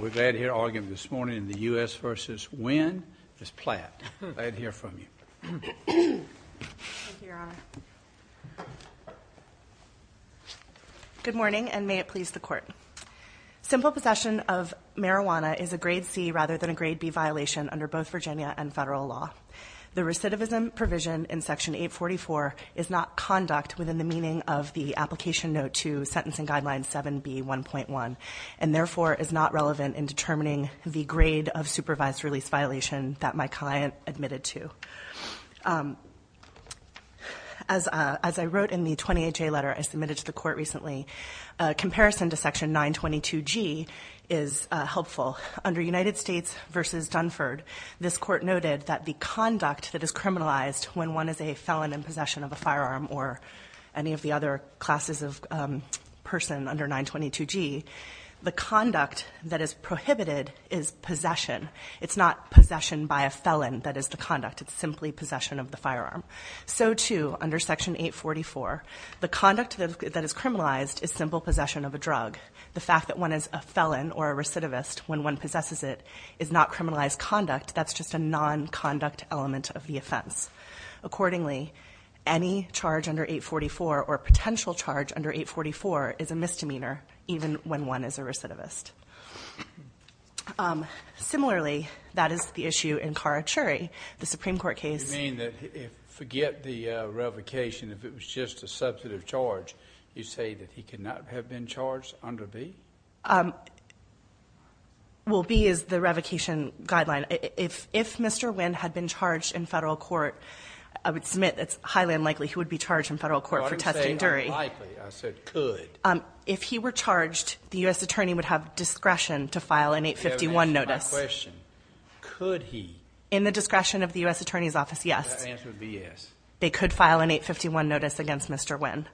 We're glad to hear all of you this morning in the U.S. v. Wynn, Ms. Platt, glad to hear from you. Thank you, your honor. Good morning and may it please the court. Simple possession of marijuana is a grade C rather than a grade B violation under both Virginia and federal law. The recidivism provision in section 844 is not conduct within the meaning of the application note to sentencing guideline 7B1.1 and therefore is not relevant in determining the grade of supervised release violation that my client admitted to. As I wrote in the 28J letter I submitted to the court recently, a comparison to section 922G is helpful. Under United States v. Dunford, this court noted that the conduct that is criminalized when one is a felon in possession of a firearm or any of the other classes of person under 922G, the conduct that is prohibited is possession. It's not possession by a felon that is the conduct, it's simply possession of the firearm. So too, under section 844, the conduct that is criminalized is simple possession of a drug. The fact that one is a felon or a recidivist when one possesses it is not criminalized conduct, that's just a non-conduct element of the offense. Accordingly, any charge under 844 or potential charge under 844 is a misdemeanor even when one is a recidivist. Similarly, that is the issue in Carra-Cherry. The Supreme Court case- You mean that if, forget the revocation, if it was just a substantive charge, you say that he could not have been charged under B? Well, B is the revocation guideline. If Mr. Wynn had been charged in federal court, I would submit that it's highly unlikely he would be charged in federal court for testing Dury. I didn't say unlikely, I said could. If he were charged, the U.S. attorney would have discretion to file an 851 notice. I have a question. Could he? In the discretion of the U.S. attorney's office, yes. So that answer would be yes. They could file an 851 notice against Mr. Wynn.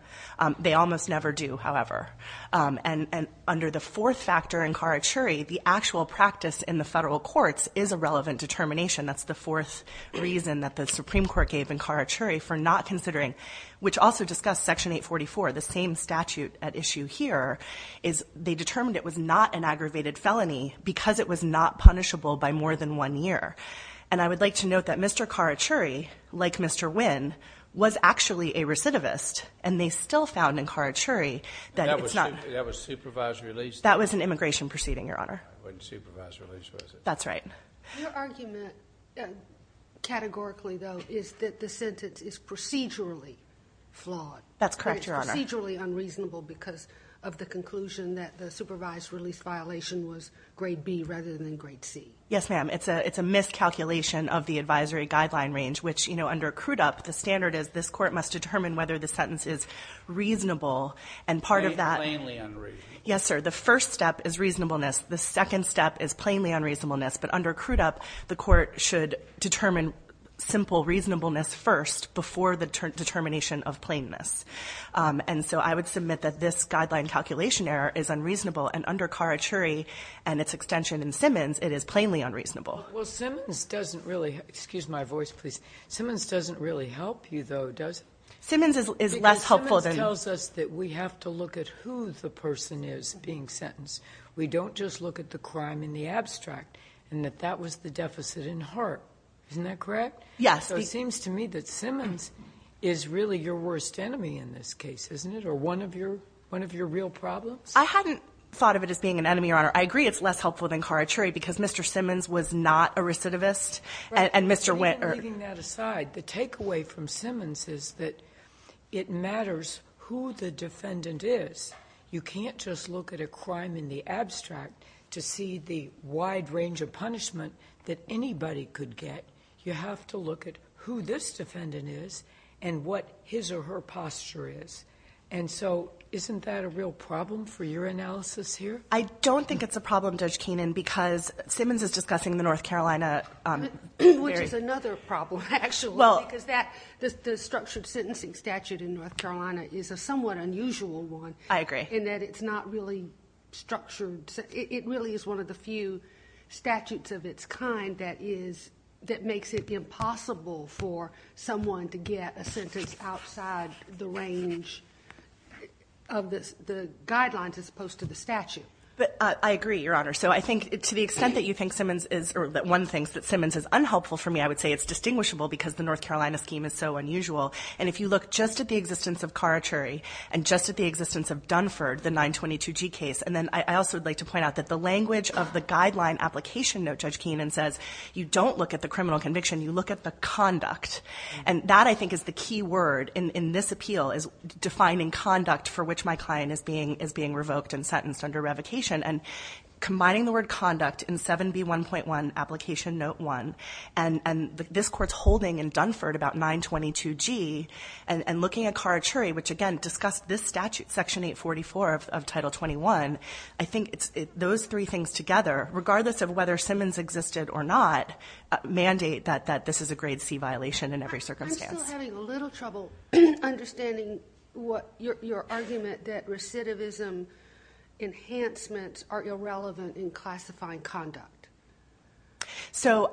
They almost never do, however. And under the fourth factor in Carra-Cherry, the actual practice in the federal courts is a relevant determination. That's the fourth reason that the Supreme Court gave in Carra-Cherry for not considering, which also discussed Section 844, the same statute at issue here, is they determined it was not an aggravated felony because it was not punishable by more than one year. And I would like to note that Mr. Carra-Cherry, like Mr. Wynn, was actually a recidivist, and they still found in Carra-Cherry that it's not. That was supervised release? That was an immigration proceeding, Your Honor. It wasn't supervised release, was it? That's right. Your argument, categorically though, is that the sentence is procedurally flawed. That's correct, Your Honor. It's procedurally unreasonable because of the conclusion that the supervised release violation was grade B rather than grade C. Yes, ma'am. It's a miscalculation of the advisory guideline range, which under Crudup, the standard is this court must determine whether the sentence is reasonable. And part of that- Plainly unreasonable. Yes, sir. The first step is reasonableness. The second step is plainly unreasonableness. But under Crudup, the court should determine simple reasonableness first before the determination of plainness. And so I would submit that this guideline calculation error is unreasonable, and under Carra-Cherry and its extension in Simmons, it is plainly unreasonable. Well, Simmons doesn't really- Excuse my voice, please. Simmons doesn't really help you, though, does it? Simmons is less helpful than- Because Simmons tells us that we have to look at who the person is being sentenced. We don't just look at the crime in the abstract, and that that was the deficit in heart. Isn't that correct? Yes. So it seems to me that Simmons is really your worst enemy in this case, isn't it, or one of your real problems? I hadn't thought of it as being an enemy, Your Honor. I agree it's less helpful than Carra-Cherry, because Mr. Simmons was not a recidivist, and Mr. Witt- Even leaving that aside, the takeaway from Simmons is that it matters who the defendant is. You can't just look at a crime in the abstract to see the wide range of punishment that anybody could get. You have to look at who this defendant is, and what his or her posture is. And so, isn't that a real problem for your analysis here? I don't think it's a problem, Judge Keenan, because Simmons is discussing the North Carolina- Which is another problem, actually, because the structured sentencing statute in North Carolina is a somewhat unusual one. I agree. In that it's not really structured. It really is one of the few statutes of its kind that makes it impossible for someone to get a sentence outside the range of the guidelines, as opposed to the statute. I agree, Your Honor. So, I think, to the extent that one thinks that Simmons is unhelpful for me, I would say it's distinguishable, because the North Carolina scheme is so unusual. And if you look just at the existence of Carra-Cherry, and just at the existence of Dunford, the language of the guideline application note, Judge Keenan says, you don't look at the criminal conviction. You look at the conduct. And that, I think, is the key word in this appeal, is defining conduct for which my client is being revoked and sentenced under revocation. And combining the word conduct in 7B1.1, Application Note 1, and this court's holding in Dunford about 922G, and looking at Carra-Cherry, which, again, discussed this statute, Section 844 of Title 21, I think those three things together, regardless of whether Simmons existed or not, mandate that this is a Grade C violation in every circumstance. I'm still having a little trouble understanding your argument that recidivism enhancements are irrelevant in classifying conduct. So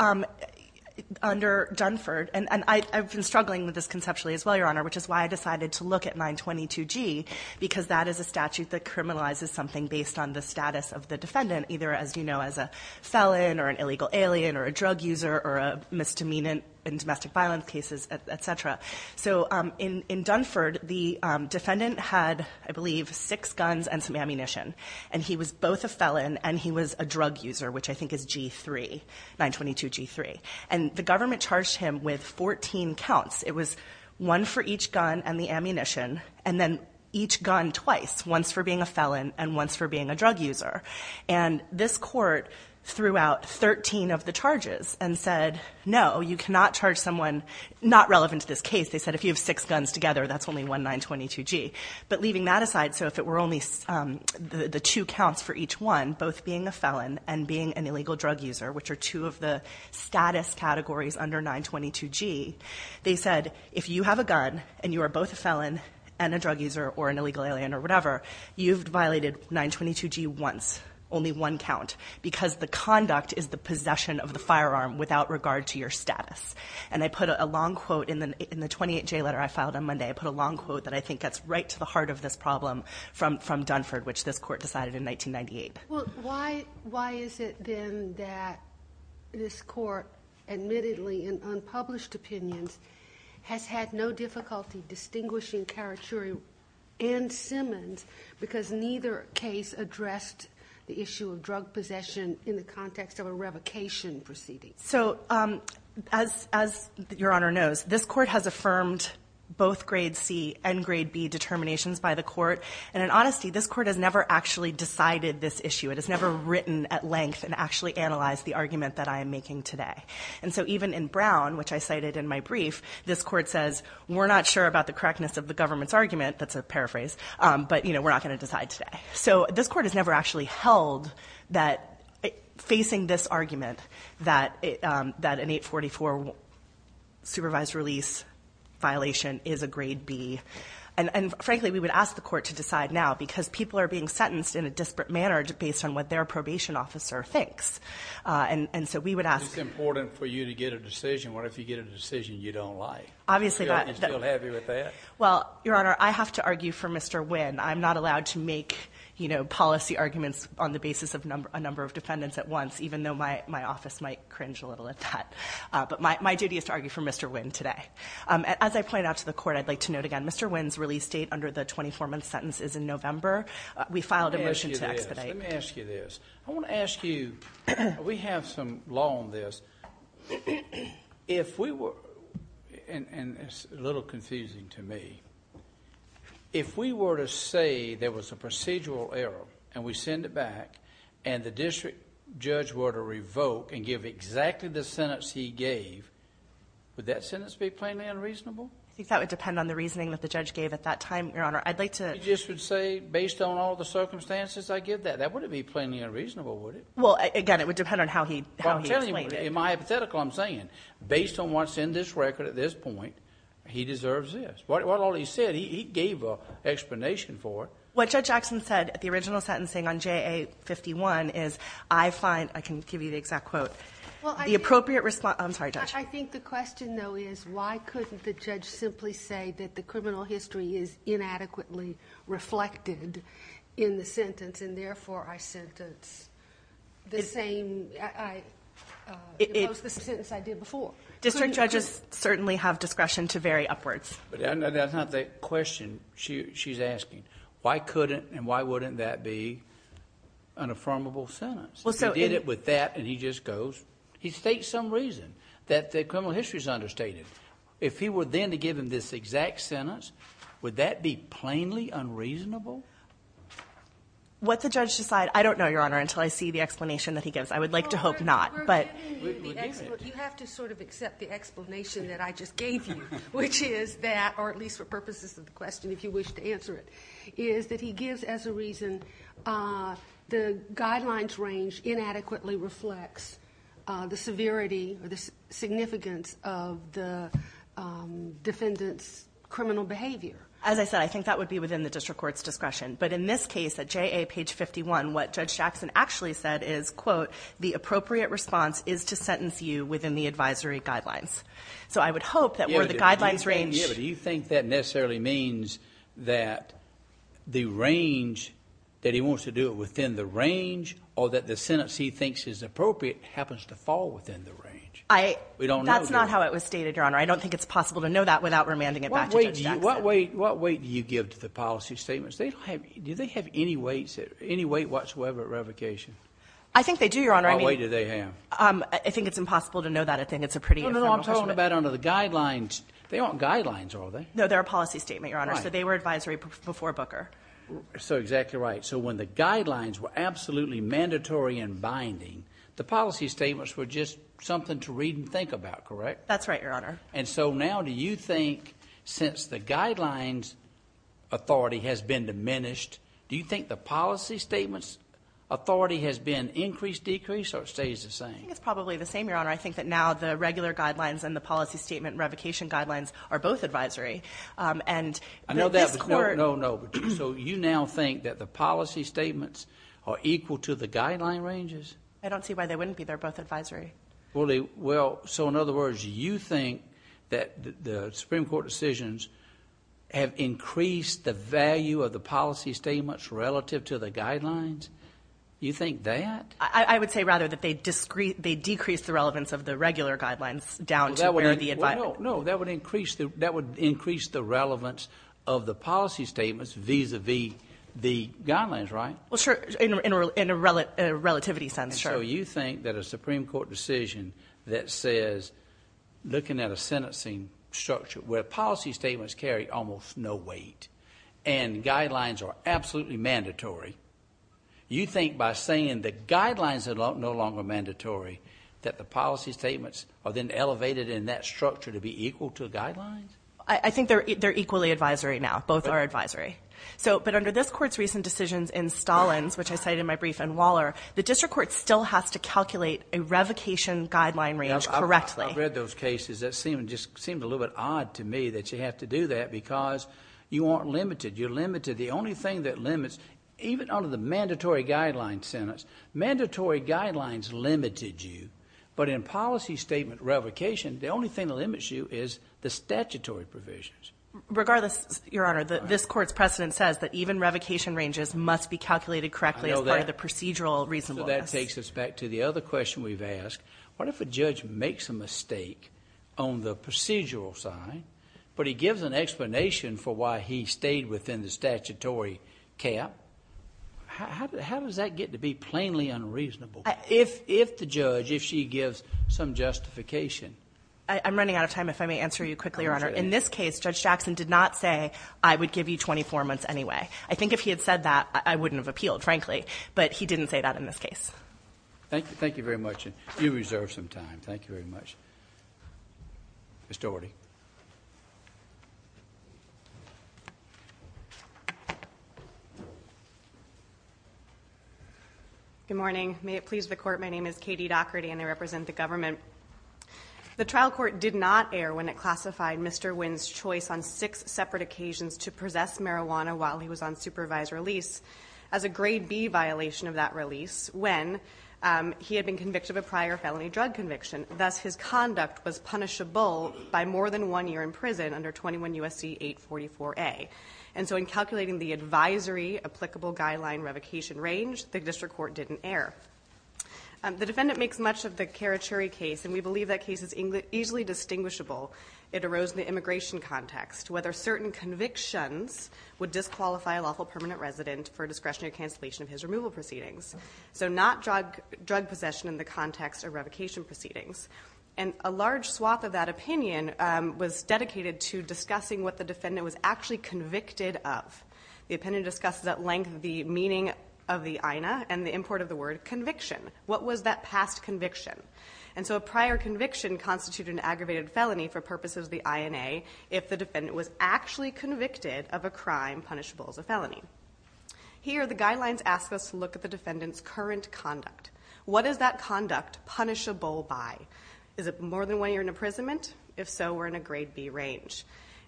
under Dunford, and I've been struggling with this conceptually as well, Your Honor, which is why I decided to look at 922G, because that is a statute that criminalizes something based on the status of the defendant, either, as you know, as a felon or an illegal alien or a drug user or a misdemeanant in domestic violence cases, et cetera. So in Dunford, the defendant had, I believe, six guns and some ammunition. And he was both a felon and he was a drug user, which I think is G3, 922G3. And the government charged him with 14 counts. It was one for each gun and the ammunition, and then each gun twice, once for being a felon and once for being a drug user. And this court threw out 13 of the charges and said, no, you cannot charge someone not relevant to this case. They said, if you have six guns together, that's only one 922G. But leaving that aside, so if it were only the two counts for each one, both being a felon and being an illegal drug user, which are two of the status categories under 922G, they said, if you have a gun and you are both a felon and a drug user or an illegal alien or whatever, you've violated 922G once, only one count, because the conduct is the possession of the firearm without regard to your status. And I put a long quote in the 28-J letter I filed on Monday, I put a long quote that I think gets right to the heart of this problem from Dunford, which this court decided in 1998. Well, why is it then that this court, admittedly in unpublished opinions, has had no difficulty distinguishing Karachuri and Simmons because neither case addressed the issue of drug possession in the context of a revocation proceeding? So as Your Honor knows, this court has affirmed both grade C and grade B determinations by the court. And in honesty, this court has never actually decided this issue. It has never written at length and actually analyzed the argument that I am making today. And so even in Brown, which I cited in my brief, this court says, we're not sure about the correctness of the government's argument, that's a paraphrase, but we're not going to decide today. So this court has never actually held that facing this argument that an 844 supervised release violation is a grade B. And frankly, we would ask the court to decide now, because people are being sentenced in a disparate manner based on what their probation officer thinks. And so we would ask- It's important for you to get a decision, what if you get a decision you don't like? Obviously that- You're still happy with that? Well, Your Honor, I have to argue for Mr. Wynn. I'm not allowed to make policy arguments on the basis of a number of defendants at once, even though my office might cringe a little at that. But my duty is to argue for Mr. Wynn today. As I pointed out to the court, I'd like to note again, Mr. Wynn's release date under the 24-month sentence is in November. We filed a motion to expedite. Let me ask you this. Let me ask you this. I want to ask you, we have some law on this. If we were, and it's a little confusing to me, if we were to say there was a procedural error and we send it back and the district judge were to revoke and give exactly the same sentence, would that sentence be plainly unreasonable? I think that would depend on the reasoning that the judge gave at that time, Your Honor. I'd like to- You just would say, based on all the circumstances I give that, that wouldn't be plainly unreasonable, would it? Well, again, it would depend on how he explained it. In my hypothetical, I'm saying, based on what's in this record at this point, he deserves this. What all he said, he gave an explanation for it. What Judge Jackson said at the original sentencing on JA-51 is, I find, I can give you the exact quote. The appropriate response- I'm sorry, Judge. I think the question, though, is why couldn't the judge simply say that the criminal history is inadequately reflected in the sentence and, therefore, I sentence the same... I oppose the sentence I did before. District judges certainly have discretion to vary upwards. That's not the question she's asking. Why couldn't and why wouldn't that be an affirmable sentence? He did it with that and he just goes. He states some reason that the criminal history is understated. If he were then to give him this exact sentence, would that be plainly unreasonable? What the judge decide, I don't know, Your Honor, until I see the explanation that he gives. I would like to hope not, but... You have to accept the explanation that I just gave you, which is that, or at least for purposes of the question, if you wish to answer it, is that he gives as a reason the guidelines range inadequately reflects the severity or the significance of the defendant's criminal behavior. As I said, I think that would be within the district court's discretion, but in this case at JA page 51, what Judge Jackson actually said is, quote, the appropriate response is to sentence you within the advisory guidelines. So I would hope that where the guidelines range... That he wants to do it within the range or that the sentence he thinks is appropriate happens to fall within the range. I... We don't know, Your Honor. That's not how it was stated, Your Honor. I don't think it's possible to know that without remanding it back to Judge Jackson. What weight do you give to the policy statements? Do they have any weight whatsoever at revocation? I think they do, Your Honor. I mean... What weight do they have? I think it's impossible to know that. I think it's a pretty... No, no, no. I'm talking about under the guidelines. They aren't guidelines, are they? No. They're a policy statement, Your Honor. Right. So they were advisory before Booker. So, exactly right. So when the guidelines were absolutely mandatory and binding, the policy statements were just something to read and think about, correct? That's right, Your Honor. And so now do you think, since the guidelines authority has been diminished, do you think the policy statements authority has been increased, decreased, or it stays the same? I think it's probably the same, Your Honor. I think that now the regular guidelines and the policy statement revocation guidelines are both advisory. And... I know that, but... So you now think that the policy statements are equal to the guideline ranges? I don't see why they wouldn't be. They're both advisory. Well, so in other words, you think that the Supreme Court decisions have increased the value of the policy statements relative to the guidelines? You think that? I would say, rather, that they decreased the relevance of the regular guidelines down to where the... The guidelines, right? Well, sure. In a relativity sense. Sure. So you think that a Supreme Court decision that says, looking at a sentencing structure where policy statements carry almost no weight and guidelines are absolutely mandatory, you think by saying the guidelines are no longer mandatory that the policy statements are then elevated in that structure to be equal to the guidelines? I think they're equally advisory now. Both are advisory. But under this Court's recent decisions in Stalins, which I cited in my brief, and Waller, the district court still has to calculate a revocation guideline range correctly. I've read those cases. It just seemed a little bit odd to me that you have to do that because you aren't limited. You're limited. The only thing that limits, even under the mandatory guidelines sentence, mandatory guidelines limited you, but in policy statement revocation, the only thing that limits you is the statutory provisions. Regardless, Your Honor, this Court's precedent says that even revocation ranges must be calculated correctly as part of the procedural reasonableness. That takes us back to the other question we've asked. What if a judge makes a mistake on the procedural side, but he gives an explanation for why he stayed within the statutory cap? How does that get to be plainly unreasonable? If the judge, if she gives some justification. If I may answer you quickly, Your Honor. In this case, Judge Jackson did not say, I would give you 24 months anyway. I think if he had said that, I wouldn't have appealed, frankly, but he didn't say that in this case. Thank you. Thank you very much. You reserve some time. Thank you very much. Ms. Dougherty. Good morning. May it please the Court, my name is Katie Dougherty and I represent the government. The trial court did not err when it classified Mr. Wynn's choice on six separate occasions to possess marijuana while he was on supervised release as a grade B violation of that release when he had been convicted of a prior felony drug conviction, thus his conduct was punishable by more than one year in prison under 21 U.S.C. 844A. And so in calculating the advisory applicable guideline revocation range, the district court didn't err. The defendant makes much of the Karachuri case and we believe that case is easily distinguishable. It arose in the immigration context, whether certain convictions would disqualify a lawful permanent resident for discretionary cancellation of his removal proceedings. So not drug possession in the context of revocation proceedings. And a large swath of that opinion was dedicated to discussing what the defendant was actually convicted of. The opinion discussed at length the meaning of the INA and the import of the word conviction. What was that past conviction? And so a prior conviction constituted an aggravated felony for purposes of the INA if the defendant was actually convicted of a crime punishable as a felony. Here the guidelines ask us to look at the defendant's current conduct. What is that conduct punishable by? Is it more than one year in imprisonment? If so, we're in a grade B range.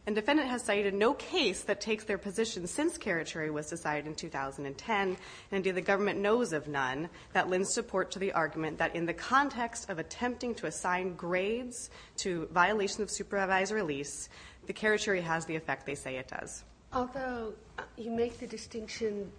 And defendant has cited no case that takes their position since Karachuri was decided in 2010. And indeed the government knows of none that lends support to the argument that in the context of attempting to assign grades to violation of supervised release, the Karachuri has the effect they say it does. Although you make the distinction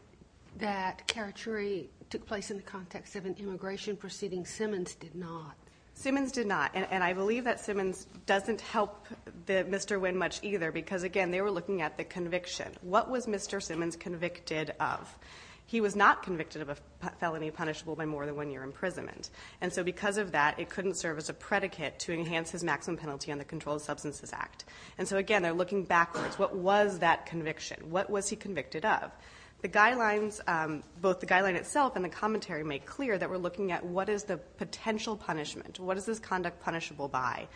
that Karachuri took place in the context of an immigration proceeding, Simmons did not. Simmons did not. And I believe that Simmons doesn't help Mr. Wynn much either because again they were looking at the conviction. What was Mr. Simmons convicted of? He was not convicted of a felony punishable by more than one year imprisonment. And so because of that, it couldn't serve as a predicate to enhance his maximum penalty on the Controlled Substances Act. And so again they're looking backwards. What was that conviction? What was he convicted of? The guidelines, both the guideline itself and the commentary make clear that we're looking at what is the potential punishment? What is this conduct punishable by?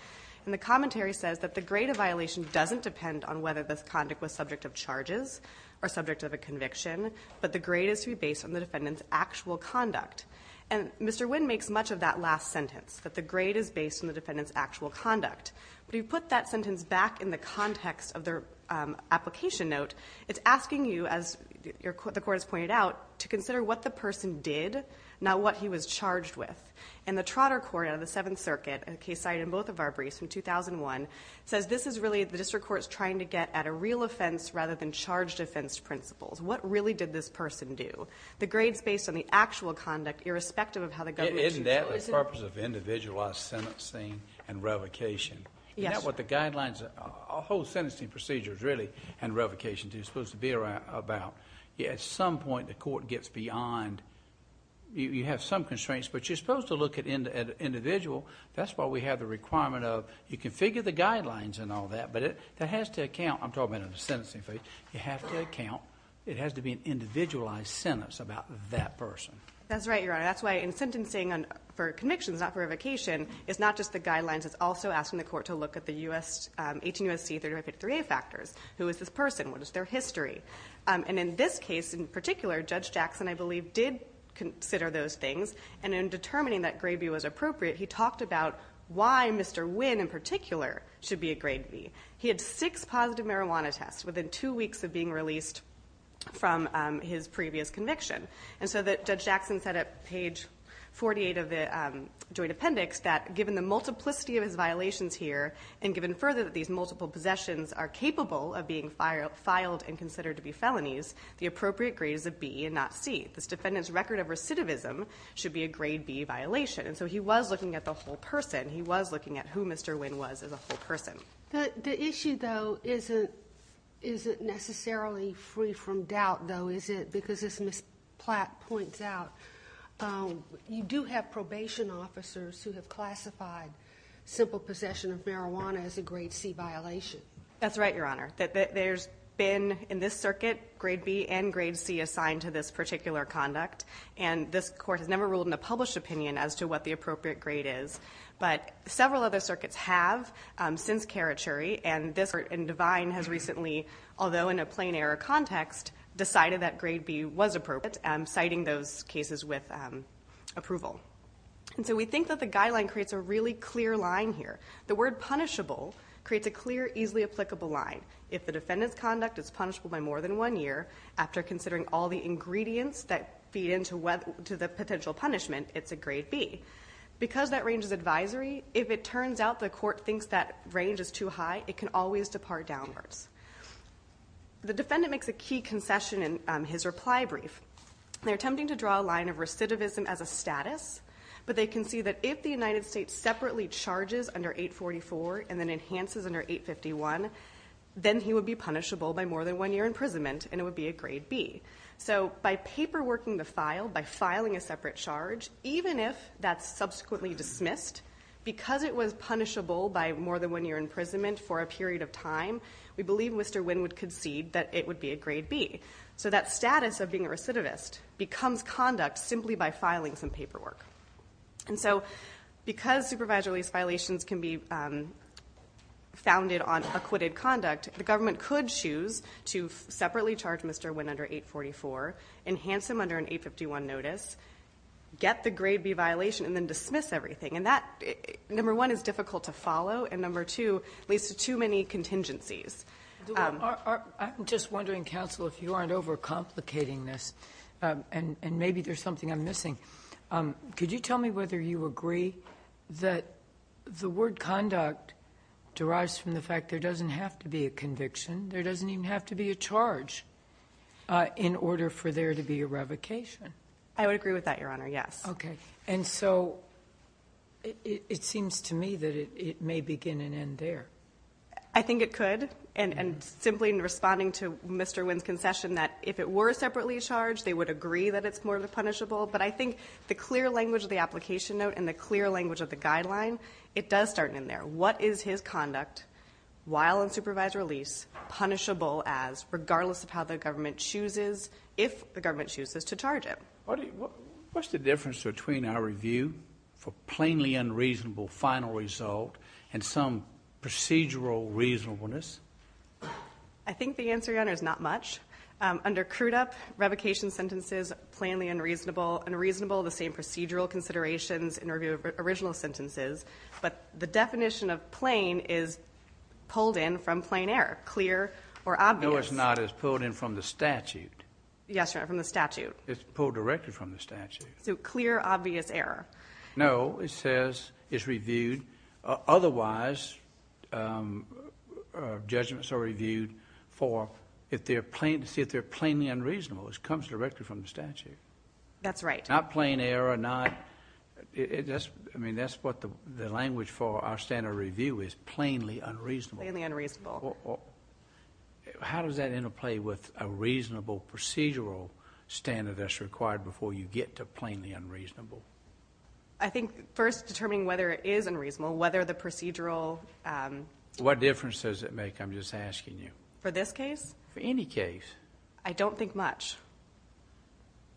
And the commentary says that the grade of violation doesn't depend on whether this conduct was subject of charges or subject of a conviction, but the grade is to be based on the defendant's actual conduct. And Mr. Wynn makes much of that last sentence, that the grade is based on the defendant's actual conduct. But if you put that sentence back in the context of their application note, it's asking you as the court has pointed out to consider what the person did, not what he was charged with. And the Trotter Court out of the Seventh Circuit, a case cited in both of our briefs in 2001, says this is really the district court's trying to get at a real offense rather than charged offense principles. What really did this person do? The grade's based on the actual conduct irrespective of how the government treats it. Isn't that the purpose of individualized sentencing and revocation? Yes. Isn't that what the guidelines, a whole sentencing procedure is really and revocation is supposed to be about? It's supposed to look at an individual, that's why we have the requirement of, you can figure the guidelines and all that, but that has to account, I'm talking about in a sentencing phase, you have to account, it has to be an individualized sentence about that person. That's right, Your Honor. That's why in sentencing for convictions, not for revocation, it's not just the guidelines, it's also asking the court to look at the 18 U.S.C. 3553A factors. Who is this person? What is their history? And in this case in particular, Judge Jackson, I believe, did consider those things and in that grade B was appropriate, he talked about why Mr. Wynn in particular should be a grade B. He had six positive marijuana tests within two weeks of being released from his previous conviction. And so that Judge Jackson said at page 48 of the joint appendix that given the multiplicity of his violations here and given further that these multiple possessions are capable of being filed and considered to be felonies, the appropriate grade is a B and not C. This is a violation. And so he was looking at the whole person. He was looking at who Mr. Wynn was as a whole person. The issue, though, isn't necessarily free from doubt, though, is it? Because as Ms. Platt points out, you do have probation officers who have classified simple possession of marijuana as a grade C violation. That's right, Your Honor. There's been in this circuit grade B and grade C assigned to this particular conduct and this court has never ruled in a published opinion as to what the appropriate grade is. But several other circuits have since Karachuri and this court and Devine has recently, although in a plain error context, decided that grade B was appropriate, citing those cases with approval. And so we think that the guideline creates a really clear line here. The word punishable creates a clear, easily applicable line. If the defendant's conduct is punishable by more than one year after considering all the to the potential punishment, it's a grade B. Because that range is advisory, if it turns out the court thinks that range is too high, it can always depart downwards. The defendant makes a key concession in his reply brief. They're attempting to draw a line of recidivism as a status, but they can see that if the United States separately charges under 844 and then enhances under 851, then he would be punishable by more than one year imprisonment and it would be a grade B. So by paperworking the file, by filing a separate charge, even if that's subsequently dismissed, because it was punishable by more than one year imprisonment for a period of time, we believe Mr. Nguyen would concede that it would be a grade B. So that status of being a recidivist becomes conduct simply by filing some paperwork. And so because supervisory lease violations can be founded on acquitted conduct, the government could choose to separately charge Mr. Nguyen under 844, enhance him under an 851 notice, get the grade B violation, and then dismiss everything. And that, number one, is difficult to follow, and number two, leads to too many contingencies. I'm just wondering, counsel, if you aren't overcomplicating this, and maybe there's something I'm missing. Could you tell me whether you agree that the word conduct derives from the fact there doesn't have to be a conviction, there doesn't even have to be a charge, in order for there to be a revocation? I would agree with that, Your Honor, yes. And so it seems to me that it may begin and end there. I think it could, and simply in responding to Mr. Nguyen's concession that if it were separately charged, they would agree that it's more punishable. But I think the clear language of the application note and the clear language of the guideline, it does start in there. What is his conduct, while in supervised release, punishable as, regardless of how the government chooses, if the government chooses to charge him? What's the difference between our review for plainly unreasonable final result and some procedural reasonableness? I think the answer, Your Honor, is not much. Under CRUDUP, revocation sentences, plainly unreasonable, unreasonable, the same procedural considerations in review of original sentences, but the definition of plain is pulled in from plain error. Clear or obvious. No, it's not. It's pulled in from the statute. Yes, Your Honor. From the statute. It's pulled directly from the statute. So clear, obvious error. No, it says it's reviewed, otherwise, judgments are reviewed for, to see if they're plainly unreasonable. It comes directly from the statute. That's right. Not plain error, not... I mean, that's what the language for our standard review is, plainly unreasonable. Plainly unreasonable. How does that interplay with a reasonable procedural standard that's required before you get to plainly unreasonable? I think, first, determining whether it is unreasonable, whether the procedural... What difference does it make, I'm just asking you? For this case? For any case. I don't think much.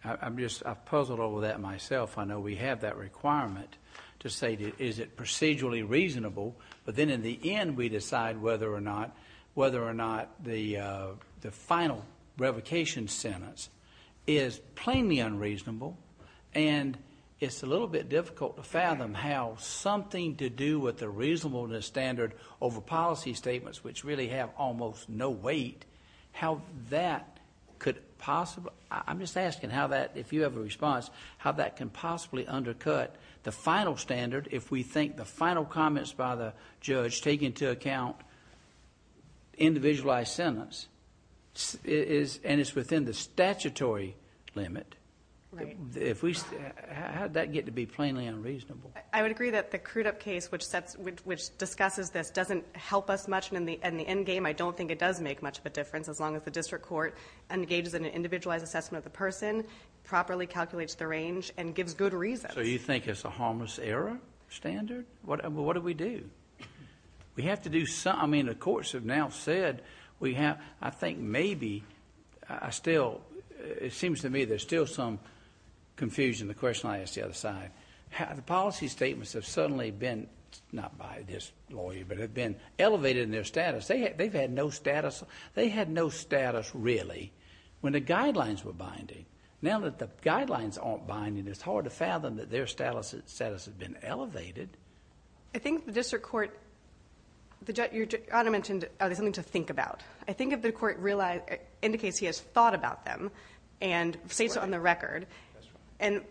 I'm just... I've puzzled over that myself. I know we have that requirement to say, is it procedurally reasonable? But then, in the end, we decide whether or not the final revocation sentence is plainly unreasonable, and it's a little bit difficult to fathom how something to do with the reasonableness standard over policy statements, which really have almost no weight, how that could possibly... I'm just asking how that, if you have a response, how that can possibly undercut the final standard, if we think the final comments by the judge, take into account individualized sentence, and it's within the statutory limit. If we... How did that get to be plainly unreasonable? I would agree that the Crudup case, which discusses this, doesn't help us much in the end game. I don't think it does make much of a difference, as long as the district court engages in an individualized assessment of the person, properly calculates the range, and gives good reasons. So, you think it's a harmless error standard? What do we do? We have to do... I mean, the courts have now said, we have... I think maybe... I still... It seems to me there's still some confusion in the question I asked the other side. The policy statements have suddenly been, not by this lawyer, but have been elevated in their status. They've had no status. They had no status, really, when the guidelines were binding. Now that the guidelines aren't binding, it's hard to fathom that their status has been elevated. I think the district court... Your Honor mentioned, are they something to think about? I think if the court indicates he has thought about them, and states on the record,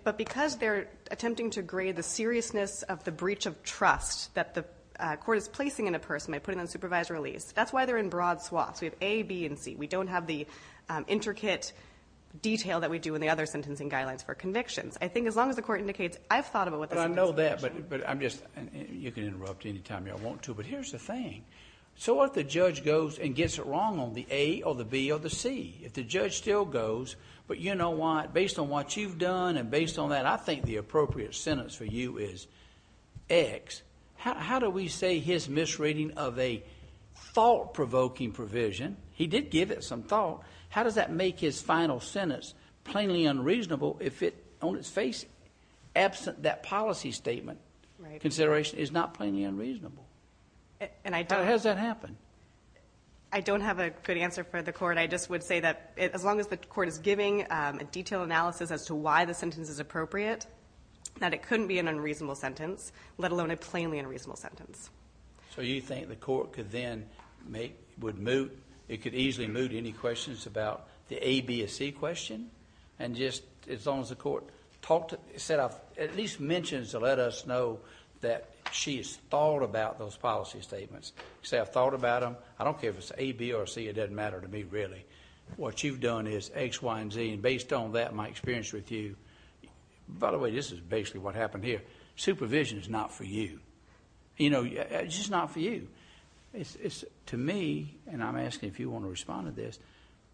but because they're attempting to grade the seriousness of the breach of trust that the court is placing in a person by putting them on supervised release, that's why they're in broad swaths. We have A, B, and C. We don't have the intricate detail that we do in the other sentencing guidelines for convictions. I think as long as the court indicates, I've thought about what the sentencing guidelines are. I know that, but I'm just... You can interrupt any time you want to, but here's the thing. So what if the judge goes and gets it wrong on the A, or the B, or the C? If the judge still goes, but you know what, based on what you've done, and based on that, I think the appropriate sentence for you is X. How do we say his misreading of a thought-provoking provision, he did give it some thought, how does that make his final sentence plainly unreasonable if it, on its face, absent that policy statement consideration, is not plainly unreasonable? How does that happen? I don't have a good answer for the court. I just would say that as long as the court is giving a detailed analysis as to why the sentence is appropriate, that it couldn't be an unreasonable sentence, let alone a plainly unreasonable sentence. So you think the court could then make... would move... it could easily move to any questions about the A, B, or C question, and just, as long as the court talked... said, at least mentions to let us know that she has thought about those policy statements, say, I've thought about them. I don't care if it's A, B, or C. It doesn't matter to me, really. What you've done is X, Y, and Z, and based on that, my experience with you... by the way, this is basically what happened here. Supervision is not for you. You know, it's just not for you. To me, and I'm asking if you want to respond to this,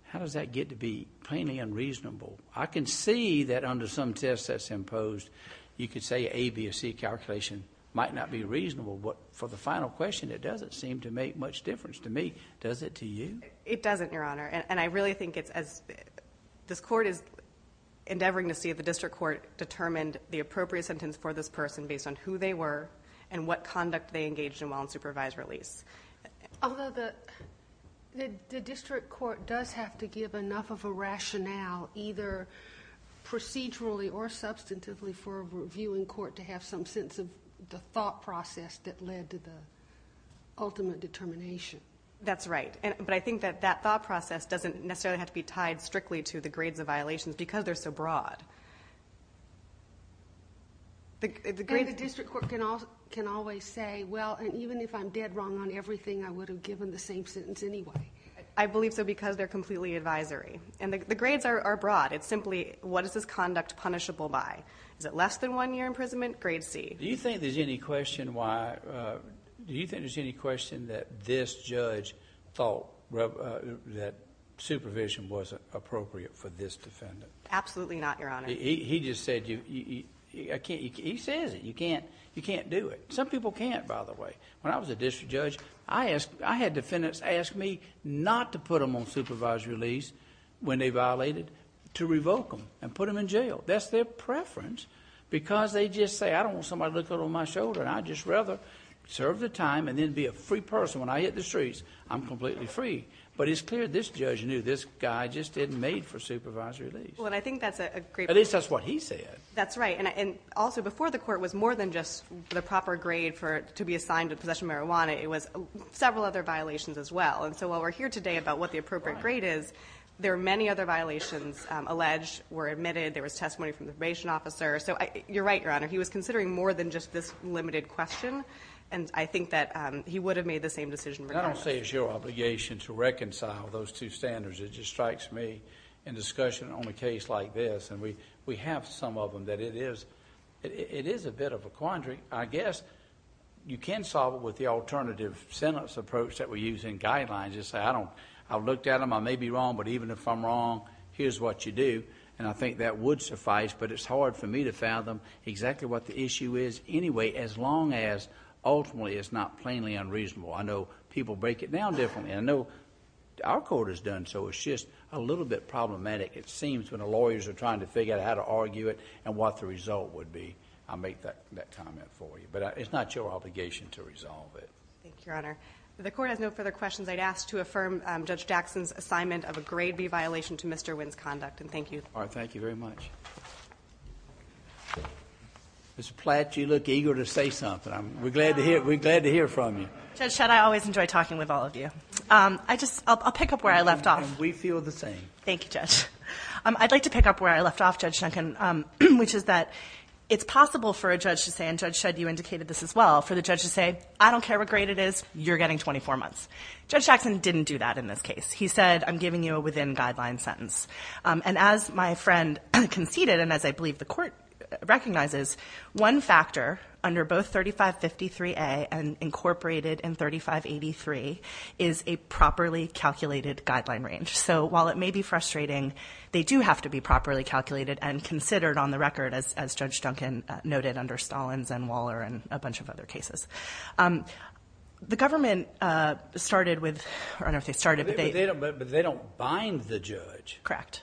how does that get to be plainly unreasonable? I can see that under some tests that's imposed, you could say A, B, or C calculation might not be reasonable, but for the final question, it doesn't seem to make much difference to me. Does it to you? It doesn't, Your Honor. And I really think it's as... this court is endeavoring to see if the district court determined the appropriate sentence for this person based on who they were, and what conduct they engaged in while in supervised release. Although the district court does have to give enough of a rationale, either procedurally or substantively for a review in court to have some sense of the thought process that led to the ultimate determination. That's right. But I think that that thought process doesn't necessarily have to be tied strictly to the grades of violations because they're so broad. The grade... And the district court can always say, well, even if I'm dead wrong on everything, I would have given the same sentence anyway. I believe so because they're completely advisory. And the grades are broad. It's simply, what is this conduct punishable by? Is it less than one year imprisonment? Grade C. Do you think there's any question why... do you think there's any question that this judge thought that supervision wasn't appropriate for this defendant? Absolutely not, Your Honor. He just said you... he says it, you can't do it. Some people can't, by the way. When I was a district judge, I had defendants ask me not to put them on supervised release when they violated, to revoke them and put them in jail. That's their preference because they just say, I don't want somebody to look over my shoulder and I'd just rather serve the time and then be a free person when I hit the streets. I'm completely free. But it's clear this judge knew this guy just isn't made for supervised release. And I think that's a great... At least that's what he said. That's right. And also, before the court was more than just the proper grade to be assigned to possession of marijuana. It was several other violations as well. And so while we're here today about what the appropriate grade is, there are many other violations alleged, were admitted, there was testimony from the probation officer. So you're right, Your Honor. He was considering more than just this limited question and I think that he would have made the same decision regardless. I don't say it's your obligation to reconcile those two standards. It just strikes me in discussion on a case like this, and we have some of them, that it is a bit of a quandary. I guess you can solve it with the alternative sentence approach that we use in guidelines. I looked at them, I may be wrong, but even if I'm wrong, here's what you do. And I think that would suffice, but it's hard for me to fathom exactly what the issue is anyway as long as ultimately it's not plainly unreasonable. I know people break it down differently. I know our court has done so. It's just a little bit problematic, it seems, when the lawyers are trying to figure out how to argue it and what the result would be. I'll make that comment for you, but it's not your obligation to resolve it. Thank you, Your Honor. If the court has no further questions, I'd ask to affirm Judge Jackson's assignment of a Grade B violation to Mr. Wynn's conduct, and thank you. All right. Thank you very much. Ms. Platt, you look eager to say something. We're glad to hear from you. Judge Shutt, I always enjoy talking with all of you. I'll pick up where I left off. We feel the same. Thank you, Judge. I'd like to pick up where I left off, Judge Duncan, which is that it's possible for a judge to say, and Judge Shutt, you indicated this as well, for the judge to say, I don't care what grade it is, you're getting 24 months. Judge Jackson didn't do that in this case. He said, I'm giving you a within-guideline sentence. As my friend conceded, and as I believe the court recognizes, one factor under both 3553A and incorporated in 3583 is a properly calculated guideline range. While it may be frustrating, they do have to be properly calculated and considered on the record, as Judge Duncan noted under Stallins and Waller and a bunch of other cases. The government started with... I don't know if they started, but they... But they don't bind the judge. Correct.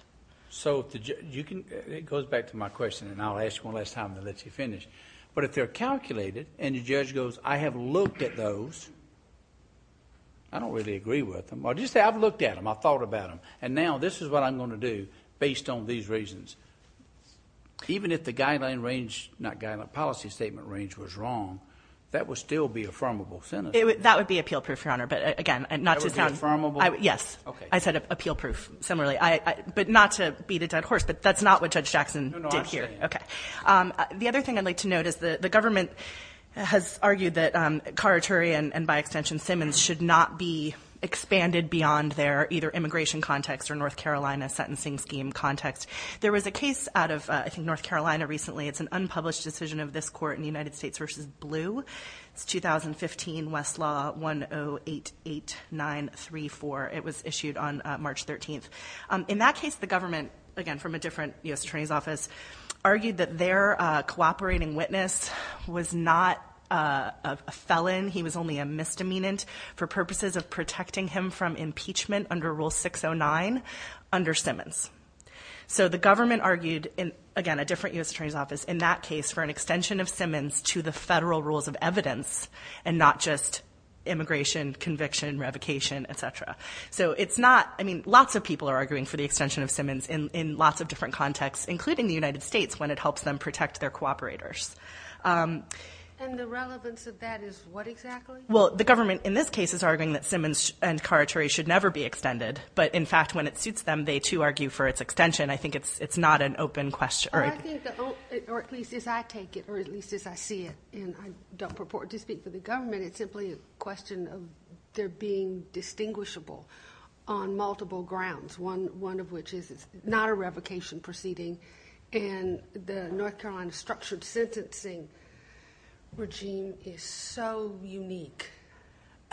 It goes back to my question, and I'll ask one last time to let you finish. But if they're calculated, and the judge goes, I have looked at those, I don't really agree with them. Or just say, I've looked at them. I've thought about them. And now, this is what I'm going to do, based on these reasons. Even if the guideline range, not guideline, policy statement range was wrong, that would still be an affirmable sentence. That would be appeal-proof, Your Honor. But again, not to sound... That would be affirmable? Yes. Okay. I said appeal-proof, similarly. But not to beat a dead horse, but that's not what Judge Jackson did here. No, no. I'm saying... Okay. The other thing I'd like to note is the government has argued that Carituri and by extension Simmons should not be expanded beyond their either immigration context or North Carolina sentencing scheme context. There was a case out of, I think, North Carolina recently. It's an unpublished decision of this court in United States v. Blue. It's 2015, Westlaw, 1088934. It was issued on March 13th. In that case, the government, again, from a different U.S. Attorney's Office, argued that their cooperating witness was not a felon. He was only a misdemeanant for purposes of protecting him from impeachment under Rule 609 under Simmons. So the government argued, again, a different U.S. Attorney's Office in that case for an extension of Simmons to the federal rules of evidence and not just immigration, conviction, revocation, etc. So it's not... I mean, lots of people are arguing for the extension of Simmons in lots of different contexts, including the United States, when it helps them protect their cooperators. And the relevance of that is what exactly? Well, the government, in this case, is arguing that Simmons and Karachary should never be extended. But in fact, when it suits them, they, too, argue for its extension. I think it's not an open question. I think, or at least as I take it, or at least as I see it, and I don't purport to speak for the government, it's simply a question of there being distinguishable on multiple grounds, one of which is it's not a revocation proceeding. And the North Carolina structured sentencing regime is so unique.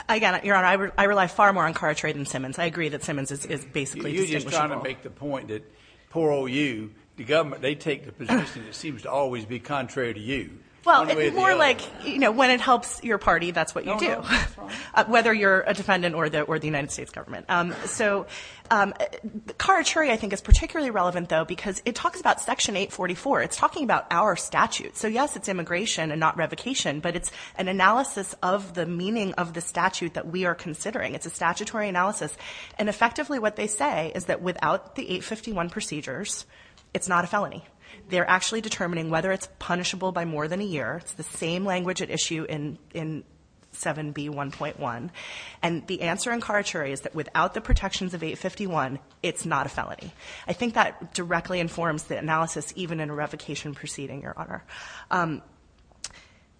I got it, Your Honor. I rely far more on Karachary than Simmons. I agree that Simmons is basically distinguishable. You're just trying to make the point that, poor old you, the government, they take the position that seems to always be contrary to you. Well, it's more like, you know, when it helps your party, that's what you do, whether you're a defendant or the United States government. So Karachary, I think, is particularly relevant, though, because it talks about Section 844. It's talking about our statute. So yes, it's immigration and not revocation, but it's an analysis of the meaning of the statute that we are considering. It's a statutory analysis. And effectively, what they say is that without the 851 procedures, it's not a felony. They're actually determining whether it's punishable by more than a year. It's the same language at issue in 7B1.1. And the answer in Karachary is that without the protections of 851, it's not a felony. I think that directly informs the analysis, even in a revocation proceeding, Your Honor.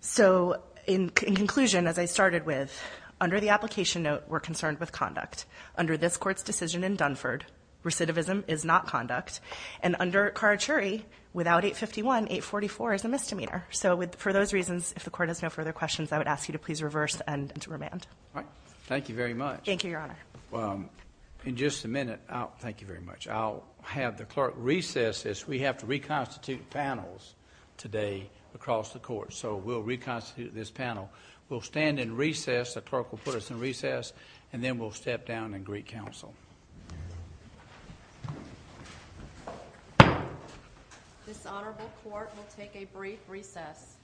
So in conclusion, as I started with, under the application note, we're concerned with conduct. Under this Court's decision in Dunford, recidivism is not conduct. And under Karachary, without 851, 844 is a misdemeanor. So for those reasons, if the Court has no further questions, I would ask you to please reverse and remand. All right. Thank you very much. Thank you, Your Honor. In just a minute, thank you very much. I'll have the clerk recess, as we have to reconstitute panels today across the Court. So we'll reconstitute this panel. We'll stand and recess. The clerk will put us in recess. And then we'll step down and greet counsel. Dishonorable Court will take a brief recess.